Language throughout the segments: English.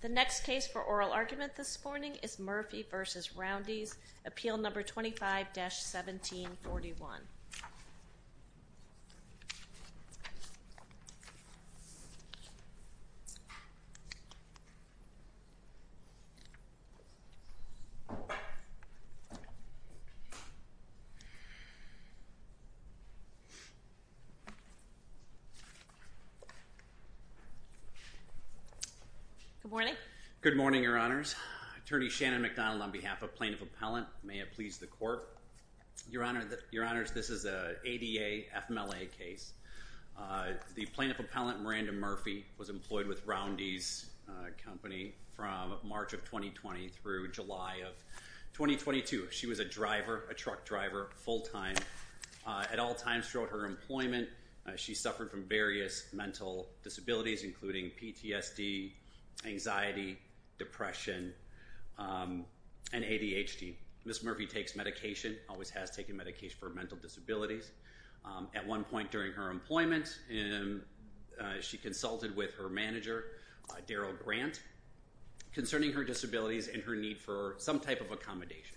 The next case for oral argument this morning is Murphy v. Roundy's, Appeal No. 25-1741. Good morning. Good morning, Your Honors. Attorney Shannon McDonald on behalf of Plaintiff Appellant. May it please the Court. Your Honors, this is an ADA FMLA case. The Plaintiff Appellant, Miranda Murphy, was employed with Roundy's company from March of 2020 through July of 2022. She was a driver, a truck driver, full-time at all times throughout her employment. She suffered from various mental disabilities, including PTSD, anxiety, depression, and ADHD. Ms. Murphy takes medication, always has taken medication for mental disabilities. At one point during her employment, she consulted with her manager, Daryl Grant, concerning her disabilities and her need for some type of accommodation.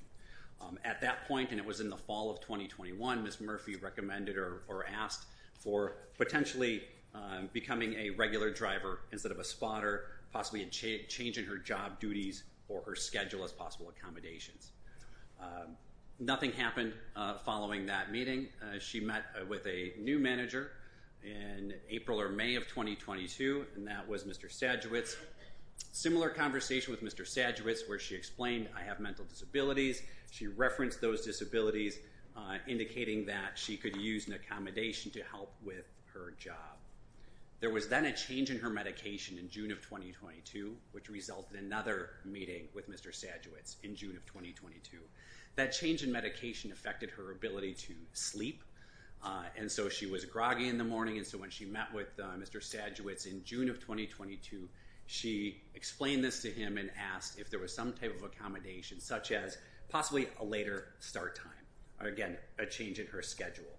At that point, and it was in the fall of 2021, Ms. Murphy recommended or asked for potentially becoming a regular driver instead of a spotter, possibly a change in her job duties or her schedule as possible accommodations. Nothing happened following that meeting. She met with a new manager in April or May of 2022, and that was Mr. Sadewitz. Similar conversation with Mr. Sadewitz, where she explained, I have mental disabilities. She referenced those disabilities, indicating that she could use an accommodation to help with her job. There was then a change in her medication in June of 2022, which resulted in another meeting with Mr. Sadewitz in June of 2022. That change in medication affected her ability to sleep, and so she was groggy in the morning. And so when she met with Mr. Sadewitz in June of 2022, she explained this to him and asked if there was some type of accommodation, such as possibly a later start time or, again, a change in her schedule.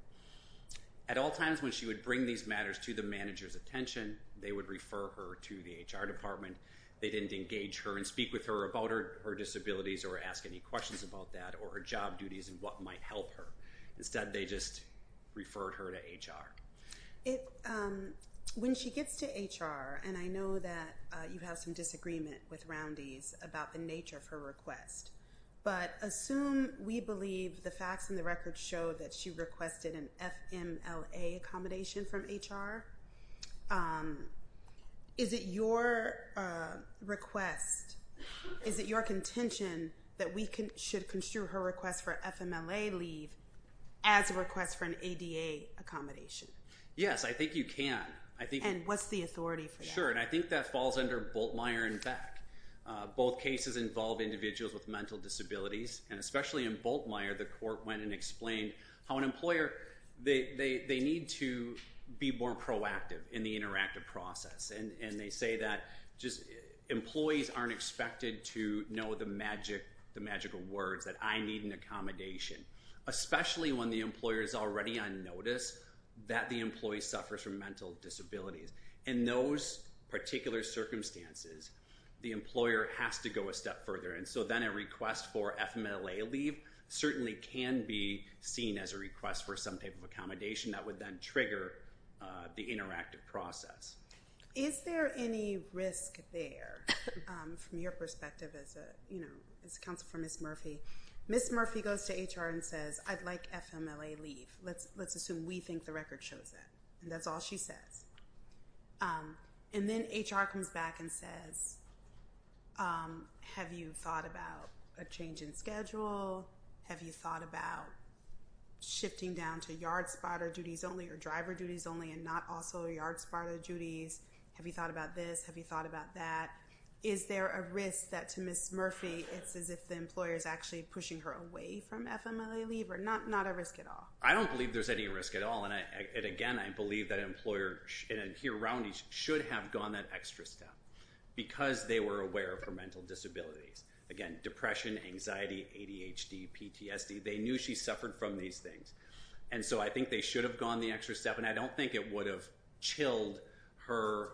At all times when she would bring these matters to the manager's attention, they would refer her to the HR department. They didn't engage her and speak with her about her disabilities or ask any questions about that or her job duties and what might help her. Instead, they just referred her to HR. When she gets to HR, and I know that you have some disagreement with Roundy's about the nature of her request, but assume we believe the facts and the records show that she requested an FMLA accommodation from HR. Is it your request, is it your contention that we should construe her request for FMLA leave as a request for an ADA accommodation? Yes, I think you can. And what's the authority for that? Sure, and I think that falls under Bultmeier and Beck. Both cases involve individuals with mental disabilities, and especially in Bultmeier, the court went and explained how an employer, they need to be more proactive in the interactive process. And they say that employees aren't expected to know the magical words that I need an accommodation, especially when the employer is already on notice that the employee suffers from mental disabilities. In those particular circumstances, the employer has to go a step further. And so then a request for FMLA leave certainly can be seen as a request for some type of accommodation that would then trigger the interactive process. Is there any risk there from your perspective as a counsel for Ms. Murphy? Ms. Murphy goes to HR and says, I'd like FMLA leave. Let's assume we think the record shows that, and that's all she says. And then HR comes back and says, have you thought about a change in schedule? Have you thought about shifting down to yard spotter duties only or driver duties only and not also yard spotter duties? Have you thought about this? Have you thought about that? Is there a risk that to Ms. Murphy, it's as if the employer is actually pushing her away from FMLA leave or not a risk at all? I don't believe there's any risk at all. And again, I believe that an employer here around you should have gone that extra step because they were aware of her mental disabilities. Again, depression, anxiety, ADHD, PTSD. They knew she suffered from these things. And so I think they should have gone the extra step. And I don't think it would have chilled her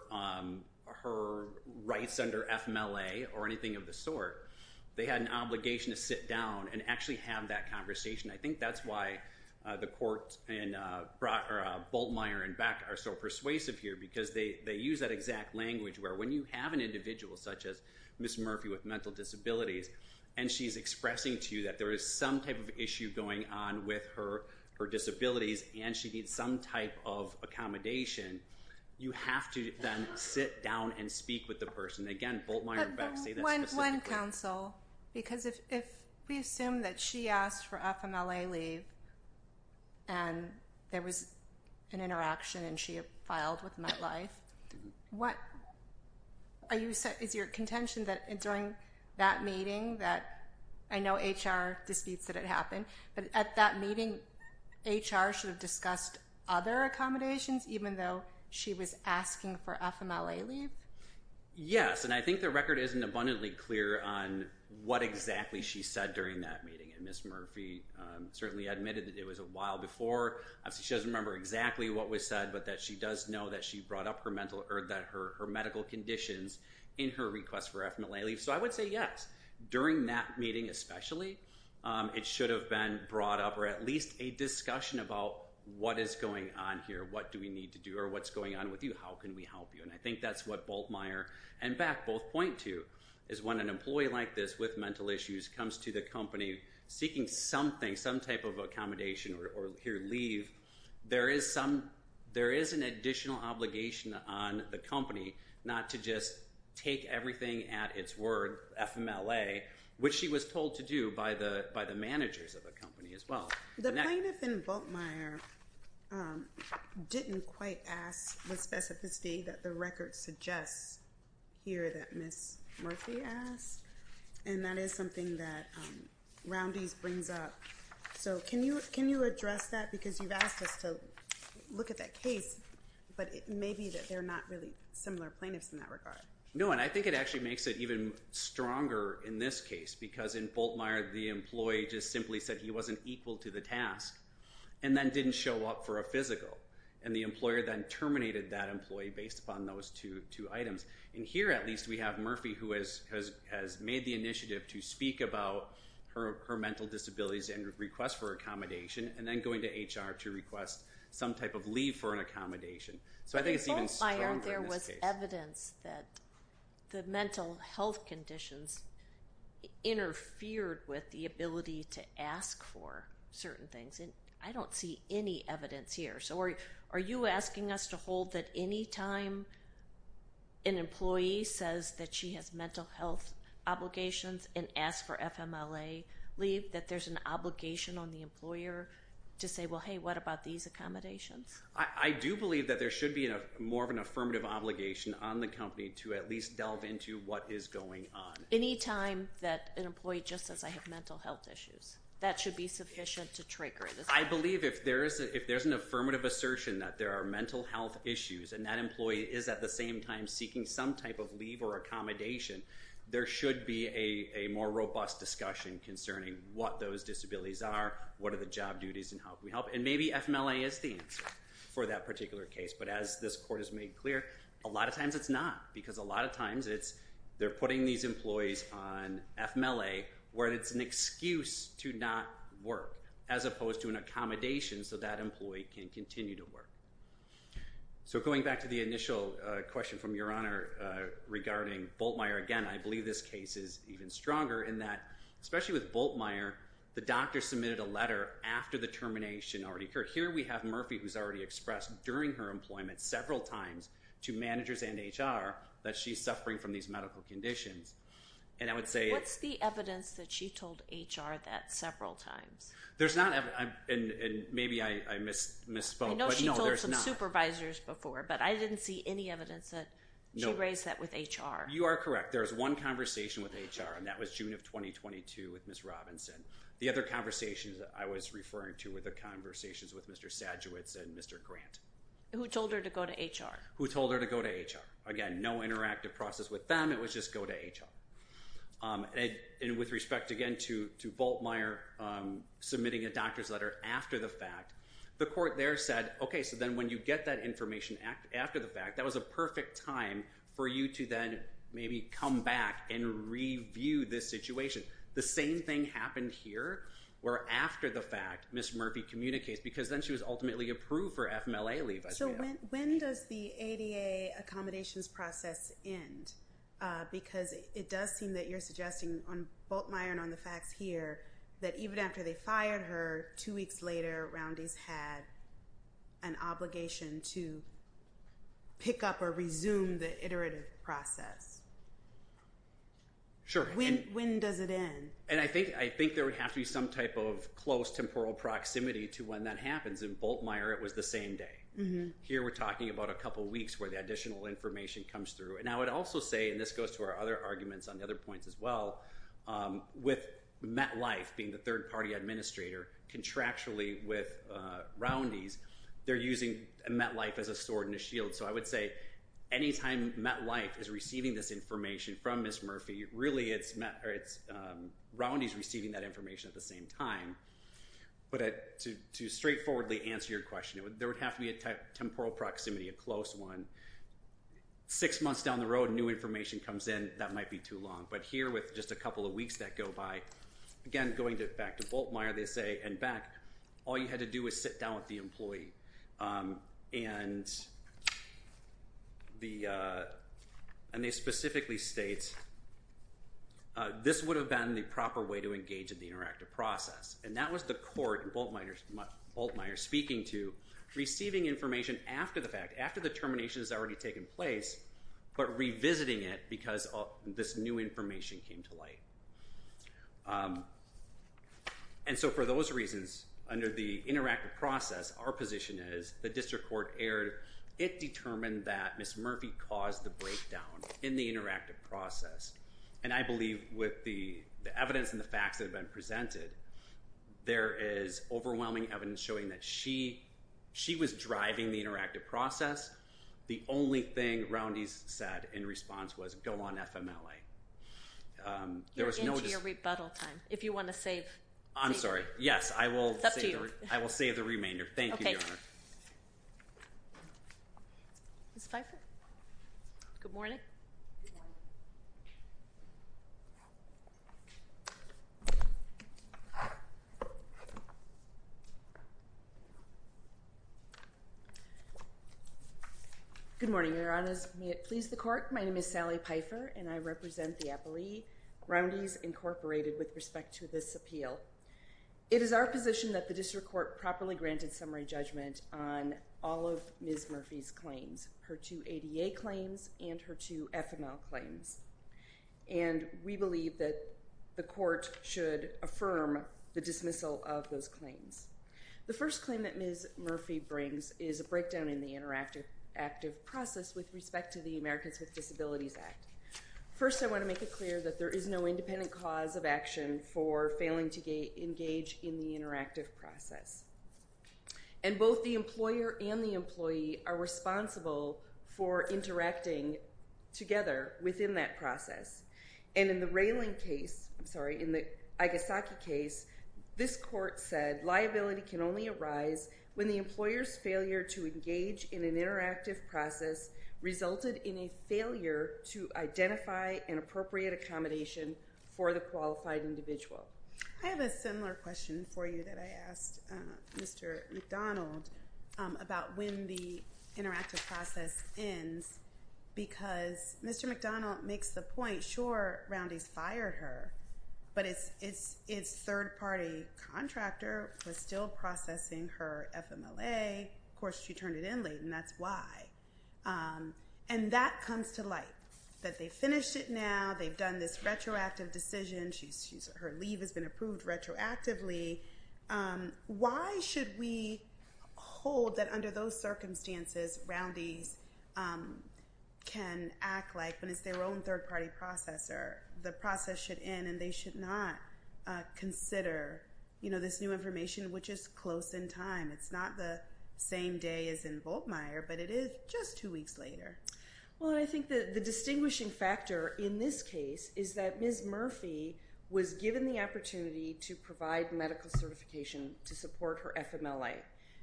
rights under FMLA or anything of the sort. They had an obligation to sit down and actually have that conversation. I think that's why the court in Boltmeier and Beck are so persuasive here because they use that exact language where when you have an individual such as Ms. Murphy with mental disabilities and she's expressing to you that there is some type of issue going on with her disabilities and she needs some type of accommodation, you have to then sit down and speak with the person. Again, Boltmeier and Beck say that specifically. Because if we assume that she asked for FMLA leave and there was an interaction and she filed with MetLife, is your contention that during that meeting that I know HR disputes that it happened, but at that meeting HR should have discussed other accommodations even though she was asking for FMLA leave? Yes. And I think the record isn't abundantly clear on what exactly she said during that meeting. And Ms. Murphy certainly admitted that it was a while before. She doesn't remember exactly what was said, but that she does know that she brought up her medical conditions in her request for FMLA leave. So I would say yes. During that meeting especially, it should have been brought up or at least a discussion about what is going on here. What do we need to do or what's going on with you? How can we help you? And I think that's what Boltmeier and Beck both point to is when an employee like this with mental issues comes to the company seeking something, some type of accommodation or leave, there is an additional obligation on the company not to just take everything at its word, FMLA, which she was told to do by the managers of the company as well. The plaintiff in Boltmeier didn't quite ask the specificity that the record suggests here that Ms. Murphy asked, and that is something that Roundy's brings up. So can you address that because you've asked us to look at that case, but it may be that they're not really similar plaintiffs in that regard. No, and I think it actually makes it even stronger in this case because in Boltmeier, the employee just simply said he wasn't equal to the task and then didn't show up for a physical, and the employer then terminated that employee based upon those two items. And here, at least, we have Murphy who has made the initiative to speak about her mental disabilities and request for accommodation and then going to HR to request some type of leave for an accommodation. So I think it's even stronger in this case. the mental health conditions interfered with the ability to ask for certain things, and I don't see any evidence here. So are you asking us to hold that any time an employee says that she has mental health obligations and asks for FMLA leave, that there's an obligation on the employer to say, well, hey, what about these accommodations? I do believe that there should be more of an affirmative obligation on the company to at least delve into what is going on. Any time that an employee just says I have mental health issues, that should be sufficient to trigger it. I believe if there's an affirmative assertion that there are mental health issues and that employee is at the same time seeking some type of leave or accommodation, there should be a more robust discussion concerning what those disabilities are, what are the job duties, and how can we help. And maybe FMLA is the answer for that particular case, but as this Court has made clear, a lot of times it's not because a lot of times they're putting these employees on FMLA where it's an excuse to not work as opposed to an accommodation so that employee can continue to work. So going back to the initial question from Your Honor regarding Bultmeier, again, I believe this case is even stronger in that, especially with Bultmeier, the doctor submitted a letter after the termination already occurred. Here we have Murphy who's already expressed during her employment several times to managers and HR that she's suffering from these medical conditions. What's the evidence that she told HR that several times? There's not, and maybe I misspoke. I know she told some supervisors before, but I didn't see any evidence that she raised that with HR. You are correct. There's one conversation with HR, and that was June of 2022 with Ms. Robinson. The other conversations I was referring to were the conversations with Mr. Sajewicz and Mr. Grant. Who told her to go to HR? Who told her to go to HR. Again, no interactive process with them. It was just go to HR. And with respect, again, to Bultmeier submitting a doctor's letter after the fact, the Court there said, okay, so then when you get that information after the fact, that was a perfect time for you to then maybe come back and review this situation. The same thing happened here where after the fact Ms. Murphy communicates because then she was ultimately approved for FMLA leave. So when does the ADA accommodations process end? Because it does seem that you're suggesting on Bultmeier and on the facts here that even after they fired her, two weeks later, Roundy's had an obligation to pick up or resume the iterative process. Sure. When does it end? And I think there would have to be some type of close temporal proximity to when that happens. In Bultmeier, it was the same day. Here we're talking about a couple weeks where the additional information comes through. And I would also say, and this goes to our other arguments on the other points as well, with MetLife being the third-party administrator contractually with Roundy's, they're using MetLife as a sword and a shield. So I would say any time MetLife is receiving this information from Ms. Murphy, really it's Roundy's receiving that information at the same time. But to straightforwardly answer your question, there would have to be a temporal proximity, a close one. Six months down the road, new information comes in, that might be too long. But here with just a couple of weeks that go by, again, going back to Bultmeier, they say, and Beck, all you had to do was sit down with the employee. And they specifically state, this would have been the proper way to engage in the interactive process. And that was the court in Bultmeier speaking to receiving information after the fact, but revisiting it because this new information came to light. And so for those reasons, under the interactive process, our position is the district court erred. It determined that Ms. Murphy caused the breakdown in the interactive process. And I believe with the evidence and the facts that have been presented, there is overwhelming evidence showing that she was driving the interactive process. The only thing Roundy's said in response was, go on FMLA. You're into your rebuttal time. If you want to save. I'm sorry. Yes. It's up to you. I will save the remainder. Thank you, Your Honor. Okay. Ms. Pfeiffer? Good morning. Good morning. Your Honor, may it please the court, my name is Sally Pfeiffer, and I represent the appellee, Roundy's Incorporated, with respect to this appeal. It is our position that the district court properly granted summary judgment on all of Ms. Murphy's claims, her two ADA claims and her two FML claims. And we believe that the court should affirm the dismissal of those claims. The first claim that Ms. Murphy brings is a breakdown in the interactive process with respect to the Americans with Disabilities Act. First, I want to make it clear that there is no independent cause of action for failing to engage in the interactive process. And both the employer and the employee are responsible for interacting together within that process. And in the Railing case, I'm sorry, in the Igesaki case, this court said liability can only arise when the employer's failure to engage in an interactive process resulted in a failure to identify an appropriate accommodation for the qualified individual. I have a similar question for you that I asked Mr. McDonald about when the interactive process ends, because Mr. McDonald makes the point, sure, Roundy's fired her, but its third-party contractor was still processing her FMLA. Of course, she turned it in late, and that's why. And that comes to light, that they finished it now. They've done this retroactive decision. Her leave has been approved retroactively. Why should we hold that under those circumstances, Roundy's can act like when it's their own third-party processor? The process should end, and they should not consider this new information, which is close in time. It's not the same day as in Volkmeier, but it is just two weeks later. Well, I think the distinguishing factor in this case is that Ms. Murphy was given the opportunity to provide medical certification to support her FMLA.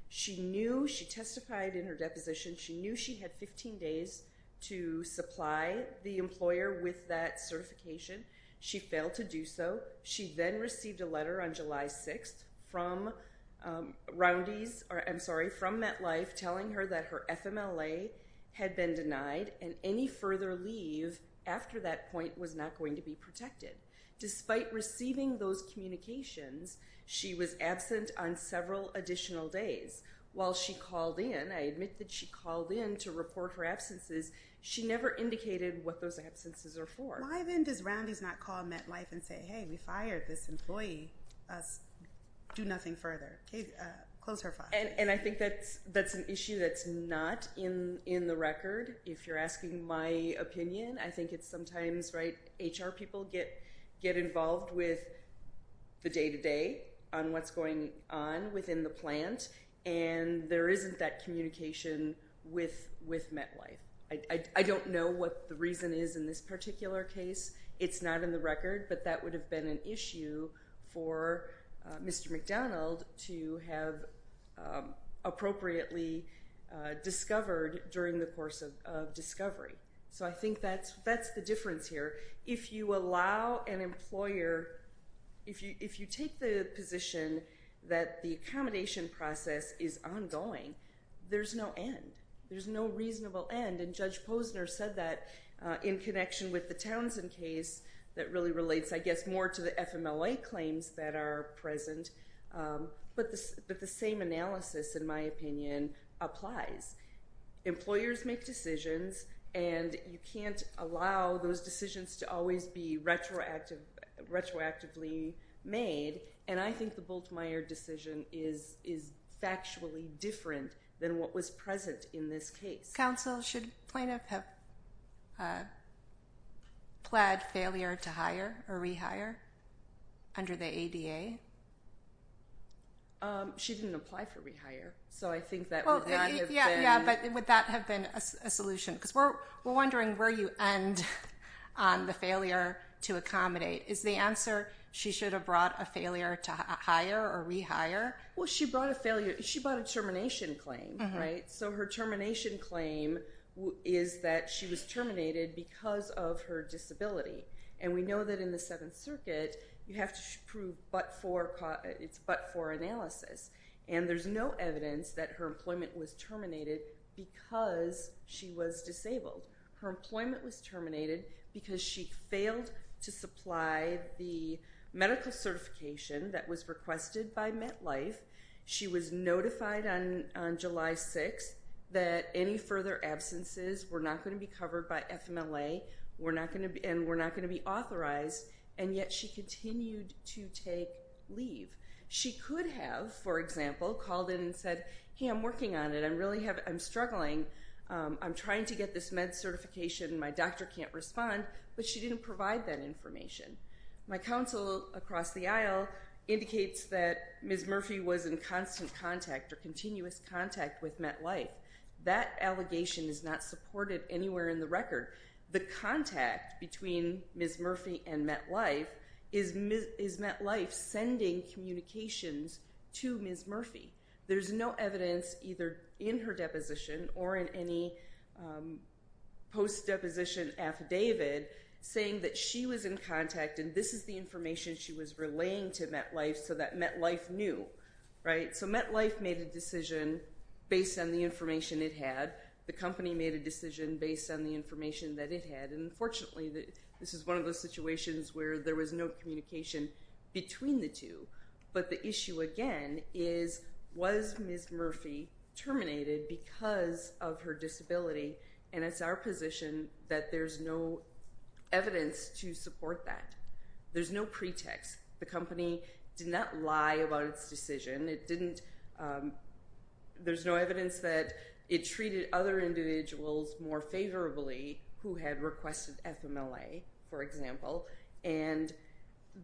She knew, she testified in her deposition, she knew she had 15 days to supply the employer with that certification. She failed to do so. She then received a letter on July 6th from Roundy's, I'm sorry, from MetLife, telling her that her FMLA had been denied, and any further leave after that point was not going to be protected. Despite receiving those communications, she was absent on several additional days. While she called in, I admit that she called in to report her absences, she never indicated what those absences are for. Why then does Roundy's not call MetLife and say, hey, we fired this employee, do nothing further? And I think that's an issue that's not in the record. If you're asking my opinion, I think it's sometimes, right, HR people get involved with the day-to-day on what's going on within the plant, and there isn't that communication with MetLife. I don't know what the reason is in this particular case. It's not in the record, but that would have been an issue for Mr. McDonald to have appropriately discovered during the course of discovery. So I think that's the difference here. If you allow an employer, if you take the position that the accommodation process is ongoing, there's no end. There's no reasonable end. And Judge Posner said that in connection with the Townsend case that really relates, I guess, more to the FMLA claims that are present. But the same analysis, in my opinion, applies. Employers make decisions, and you can't allow those decisions to always be retroactively made. And I think the Bultmeier decision is factually different than what was present in this case. This counsel, should plaintiff have pled failure to hire or rehire under the ADA? She didn't apply for rehire, so I think that would not have been… Yeah, but would that have been a solution? Because we're wondering where you end on the failure to accommodate. Is the answer she should have brought a failure to hire or rehire? Well, she brought a failure. She brought a termination claim, right? So her termination claim is that she was terminated because of her disability. And we know that in the Seventh Circuit, you have to prove but for analysis. And there's no evidence that her employment was terminated because she was disabled. Her employment was terminated because she failed to supply the medical certification that was requested by MetLife. She was notified on July 6th that any further absences were not going to be covered by FMLA and were not going to be authorized, and yet she continued to take leave. She could have, for example, called in and said, hey, I'm working on it. I'm struggling. I'm trying to get this med certification, and my doctor can't respond. But she didn't provide that information. My counsel across the aisle indicates that Ms. Murphy was in constant contact or continuous contact with MetLife. That allegation is not supported anywhere in the record. The contact between Ms. Murphy and MetLife is MetLife sending communications to Ms. Murphy. There's no evidence either in her deposition or in any post-deposition affidavit saying that she was in contact and this is the information she was relaying to MetLife so that MetLife knew. So MetLife made a decision based on the information it had. The company made a decision based on the information that it had. And unfortunately, this is one of those situations where there was no communication between the two. But the issue, again, is was Ms. Murphy terminated because of her disability? And it's our position that there's no evidence to support that. There's no pretext. The company did not lie about its decision. There's no evidence that it treated other individuals more favorably who had requested FMLA, for example. And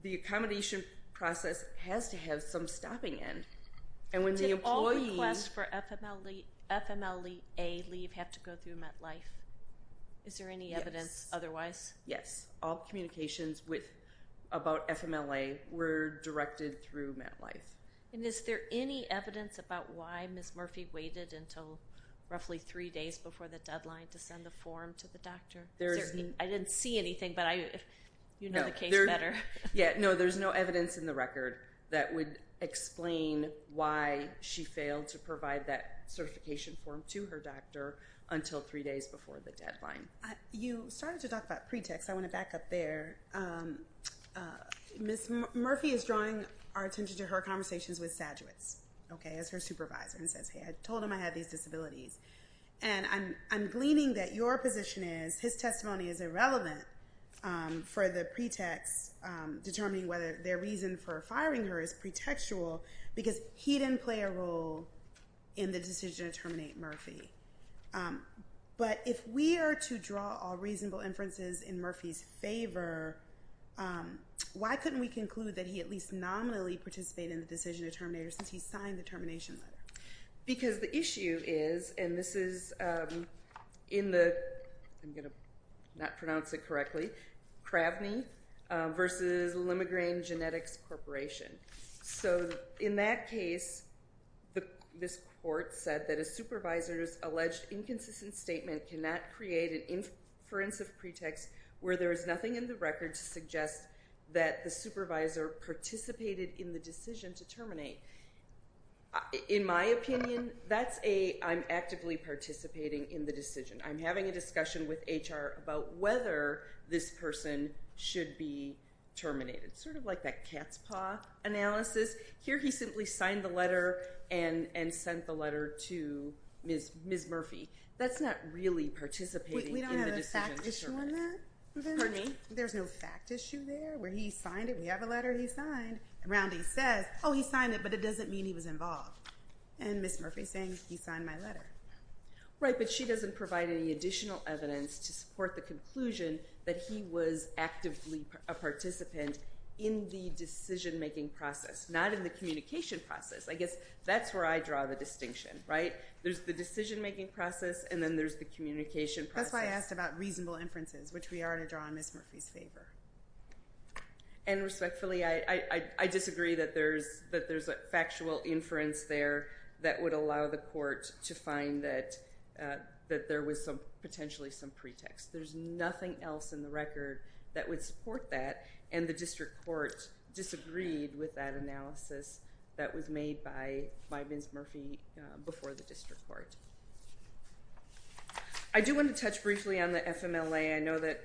the accommodation process has to have some stopping in. Did all requests for FMLA leave have to go through MetLife? Is there any evidence otherwise? Yes. All communications about FMLA were directed through MetLife. And is there any evidence about why Ms. Murphy waited until roughly three days before the deadline to send the form to the doctor? I didn't see anything, but you know the case better. Yeah. No, there's no evidence in the record that would explain why she failed to provide that certification form to her doctor until three days before the deadline. You started to talk about pretext. I want to back up there. Ms. Murphy is drawing our attention to her conversations with Sajewicz as her supervisor and says, hey, I told him I had these disabilities. And I'm gleaning that your position is his testimony is irrelevant for the pretext determining whether their reason for firing her is pretextual because he didn't play a role in the decision to terminate Murphy. But if we are to draw all reasonable inferences in Murphy's favor, why couldn't we conclude that he at least nominally participated in the decision to terminate her since he signed the termination letter? Because the issue is, and this is in the, I'm going to not pronounce it correctly, Kravny versus Limograin Genetics Corporation. So in that case, this court said that a supervisor's alleged inconsistent statement cannot create an inference of pretext where there is nothing in the record to suggest that the supervisor participated in the decision to terminate. In my opinion, that's a, I'm actively participating in the decision. I'm having a discussion with HR about whether this person should be terminated. Sort of like that cat's paw analysis. Here he simply signed the letter and sent the letter to Ms. Murphy. That's not really participating in the decision to terminate. We don't have a fact issue on that? Pardon me? There's no fact issue there where he signed it. We have a letter he signed. Roundy says, oh, he signed it, but it doesn't mean he was involved. And Ms. Murphy's saying, he signed my letter. Right, but she doesn't provide any additional evidence to support the conclusion that he was actively a participant in the decision-making process, not in the communication process. I guess that's where I draw the distinction, right? There's the decision-making process, and then there's the communication process. That's why I asked about reasonable inferences, which we already draw in Ms. Murphy's favor. And respectfully, I disagree that there's a factual inference there that would allow the court to find that there was potentially some pretext. There's nothing else in the record that would support that, and the district court disagreed with that analysis that was made by Ms. Murphy before the district court. I do want to touch briefly on the FMLA. I know that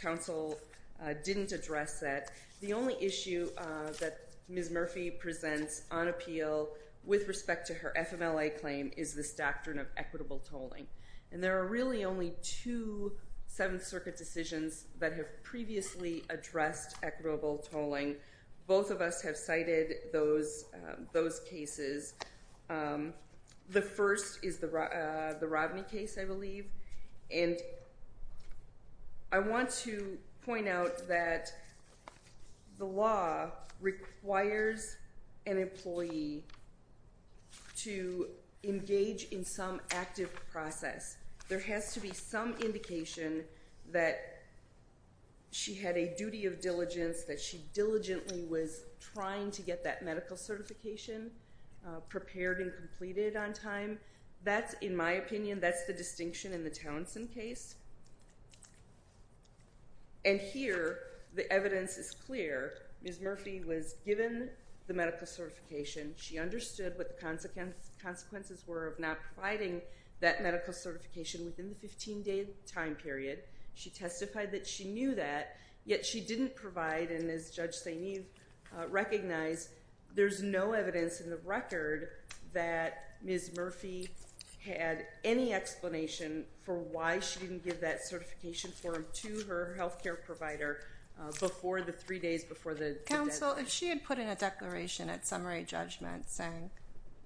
counsel didn't address that. The only issue that Ms. Murphy presents on appeal with respect to her FMLA claim is this doctrine of equitable tolling. And there are really only two Seventh Circuit decisions that have previously addressed equitable tolling. Both of us have cited those cases. The first is the Rodney case, I believe. And I want to point out that the law requires an employee to engage in some active process. There has to be some indication that she had a duty of diligence, that she diligently was trying to get that medical certification prepared and completed on time. That's, in my opinion, that's the distinction in the Townsend case. And here, the evidence is clear. Ms. Murphy was given the medical certification. She understood what the consequences were of not providing that medical certification within the 15-day time period. She testified that she knew that, yet she didn't provide, and as Judge St. Eve recognized, there's no evidence in the record that Ms. Murphy had any explanation for why she didn't give that certification form to her health care provider before the three days before the deadline. Counsel, she had put in a declaration at summary judgment saying,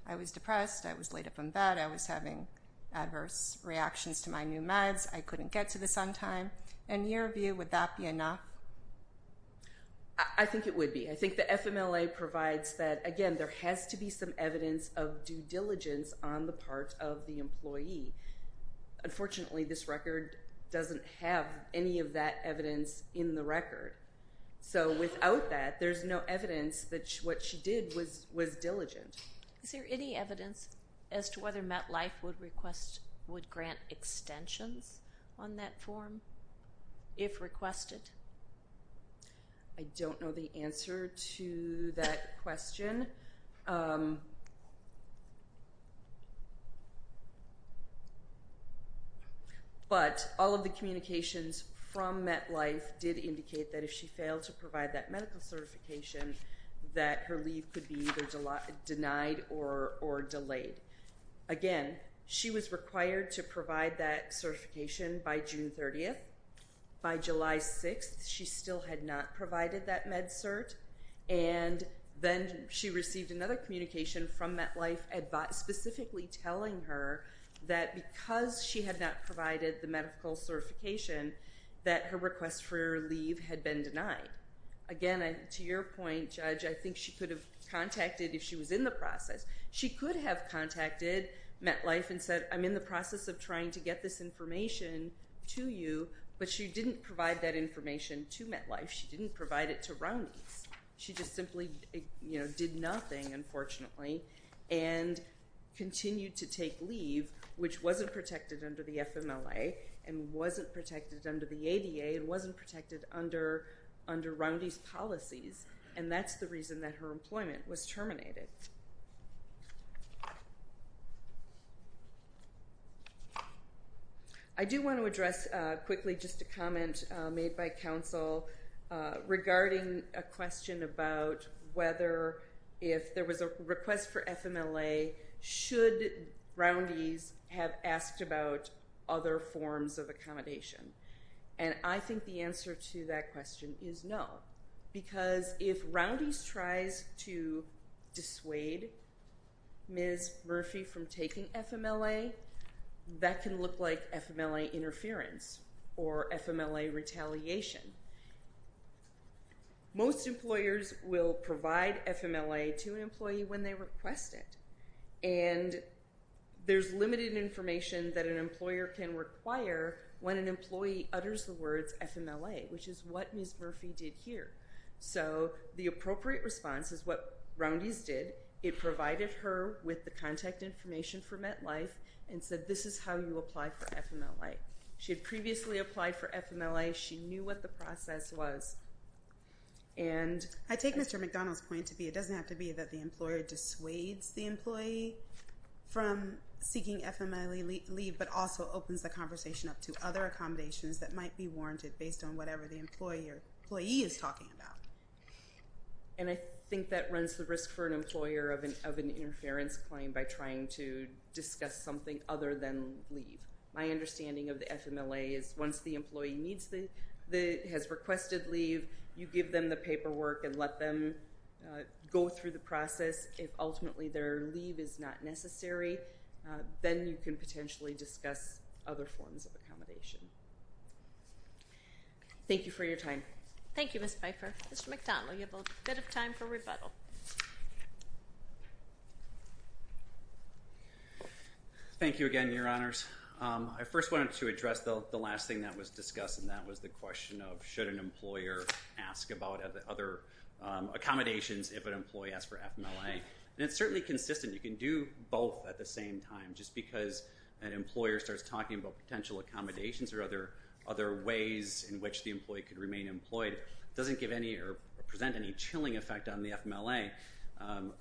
I was depressed. I was laid up in bed. I was having adverse reactions to my new meds. I couldn't get to this on time. In your view, would that be enough? I think it would be. I think the FMLA provides that, again, there has to be some evidence of due diligence on the part of the employee. Unfortunately, this record doesn't have any of that evidence in the record. So without that, there's no evidence that what she did was diligent. Is there any evidence as to whether MetLife would grant extensions on that form if requested? I don't know the answer to that question. But all of the communications from MetLife did indicate that if she failed to provide that medical certification, that her leave could be either denied or delayed. Again, she was required to provide that certification by June 30th. By July 6th, she still had not provided that med cert. And then she received another communication from MetLife specifically telling her that because she had not provided the medical certification, that her request for her leave had been denied. Again, to your point, Judge, I think she could have contacted if she was in the process. She could have contacted MetLife and said, I'm in the process of trying to get this information to you. But she didn't provide that information to MetLife. She didn't provide it to Roundy's. She just simply did nothing, unfortunately, and continued to take leave, which wasn't protected under the FMLA and wasn't protected under the ADA and wasn't protected under Roundy's policies. And that's the reason that her employment was terminated. I do want to address quickly just a comment made by counsel regarding a question about whether if there was a request for FMLA, should Roundy's have asked about other forms of accommodation? And I think the answer to that question is no, because if Roundy's tries to dissuade Ms. Murphy from taking FMLA, that can look like FMLA interference or FMLA retaliation. Most employers will provide FMLA to an employee when they request it. And there's limited information that an employer can require when an employee utters the words FMLA, which is what Ms. Murphy did here. So the appropriate response is what Roundy's did. It provided her with the contact information for MetLife and said, this is how you apply for FMLA. She had previously applied for FMLA. She knew what the process was. I take Mr. McDonald's point to be, it doesn't have to be that the employer dissuades the employee from seeking FMLA leave, but also opens the conversation up to other accommodations that might be warranted based on whatever the employee is talking about. And I think that runs the risk for an employer of an interference claim by trying to discuss something other than leave. My understanding of the FMLA is once the employee has requested leave, you give them the paperwork and let them go through the process. If ultimately their leave is not necessary, then you can potentially discuss other forms of accommodation. Thank you for your time. Thank you, Ms. Piper. Mr. McDonald, you have a bit of time for rebuttal. Thank you again, Your Honors. I first wanted to address the last thing that was discussed, and that was the question of should an employer ask about other accommodations if an employee asks for FMLA. And it's certainly consistent. You can do both at the same time. Just because an employer starts talking about potential accommodations or other ways in which the employee could remain employed doesn't give any or present any chilling effect on the FMLA.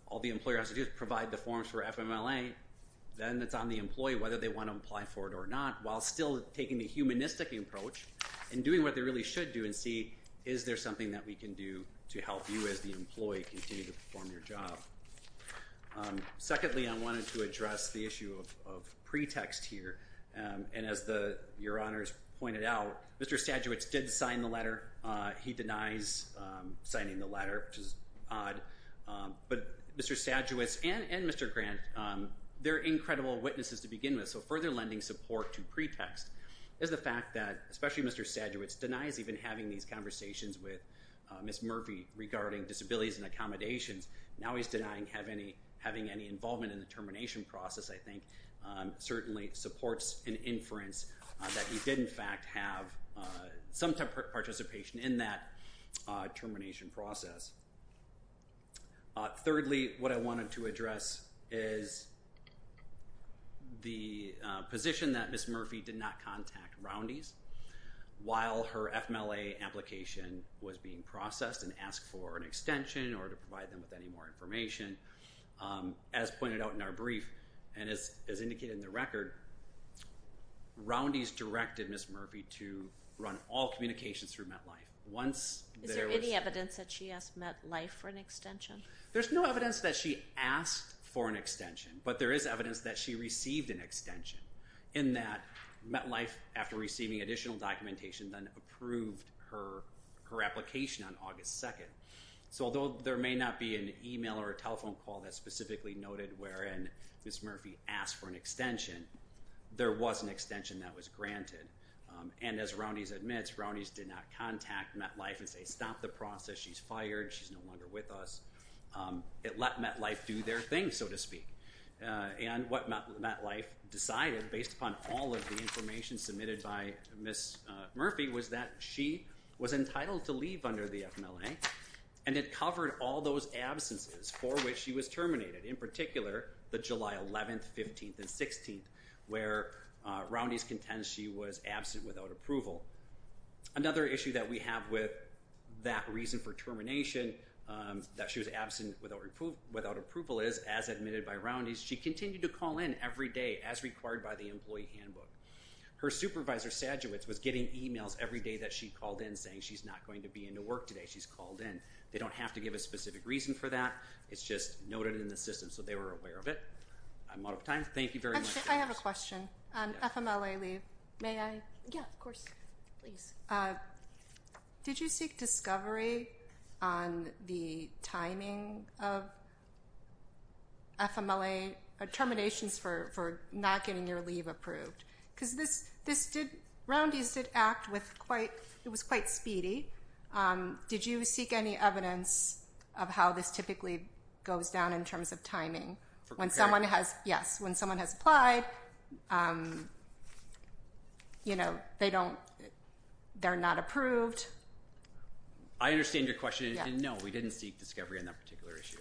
All the employer has to do is provide the forms for FMLA, then it's on the employee whether they want to apply for it or not, while still taking the humanistic approach and doing what they really should do and see, is there something that we can do to help you as the employee continue to perform your job? Secondly, I wanted to address the issue of pretext here. And as Your Honors pointed out, Mr. Stajewicz did sign the letter. He denies signing the letter, which is odd. But Mr. Stajewicz and Mr. Grant, they're incredible witnesses to begin with, so further lending support to pretext is the fact that especially Mr. Stajewicz denies even having these conversations with Ms. Murphy regarding disabilities and accommodations. Now he's denying having any involvement in the termination process, I think, certainly supports an inference that he did in fact have some type of participation in that termination process. Thirdly, what I wanted to address is the position that Ms. Murphy did not contact Roundy's while her FMLA application was being processed and asked for an extension or to provide them with any more information. As pointed out in our brief, and as indicated in the record, Roundy's directed Ms. Murphy to run all communications through MetLife. Is there any evidence that she asked MetLife for an extension? There's no evidence that she asked for an extension, but there is evidence that she received an extension, in that MetLife, after receiving additional documentation, then approved her application on August 2nd. So although there may not be an email or a telephone call that specifically noted wherein Ms. Murphy asked for an extension, there was an extension that was granted. And as Roundy's admits, Roundy's did not contact MetLife and say, stop the process, she's fired, she's no longer with us. It let MetLife do their thing, so to speak. And what MetLife decided, based upon all of the information submitted by Ms. Murphy, was that she was entitled to leave under the FMLA, and it covered all those absences for which she was terminated. In particular, the July 11th, 15th, and 16th, where Roundy's contends she was absent without approval. Another issue that we have with that reason for termination, that she was absent without approval, is, as admitted by Roundy's, she continued to call in every day as required by the employee handbook. Her supervisor, Sajewicz, was getting emails every day that she called in saying she's not going to be into work today. She's called in. They don't have to give a specific reason for that. It's just noted in the system so they were aware of it. I'm out of time. Thank you very much. I have a question on FMLA leave. May I? Yeah, of course. Please. Did you seek discovery on the timing of terminations for not getting your leave approved? Because this did, Roundy's did act with quite, it was quite speedy. Did you seek any evidence of how this typically goes down in terms of timing? When someone has, yes, when someone has applied, you know, they don't, they're not approved. I understand your question. No, we didn't seek discovery on that particular issue.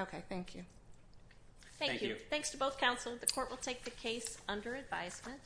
Okay, thank you. Thank you. Thanks to both counsel. The court will take the case under advisement.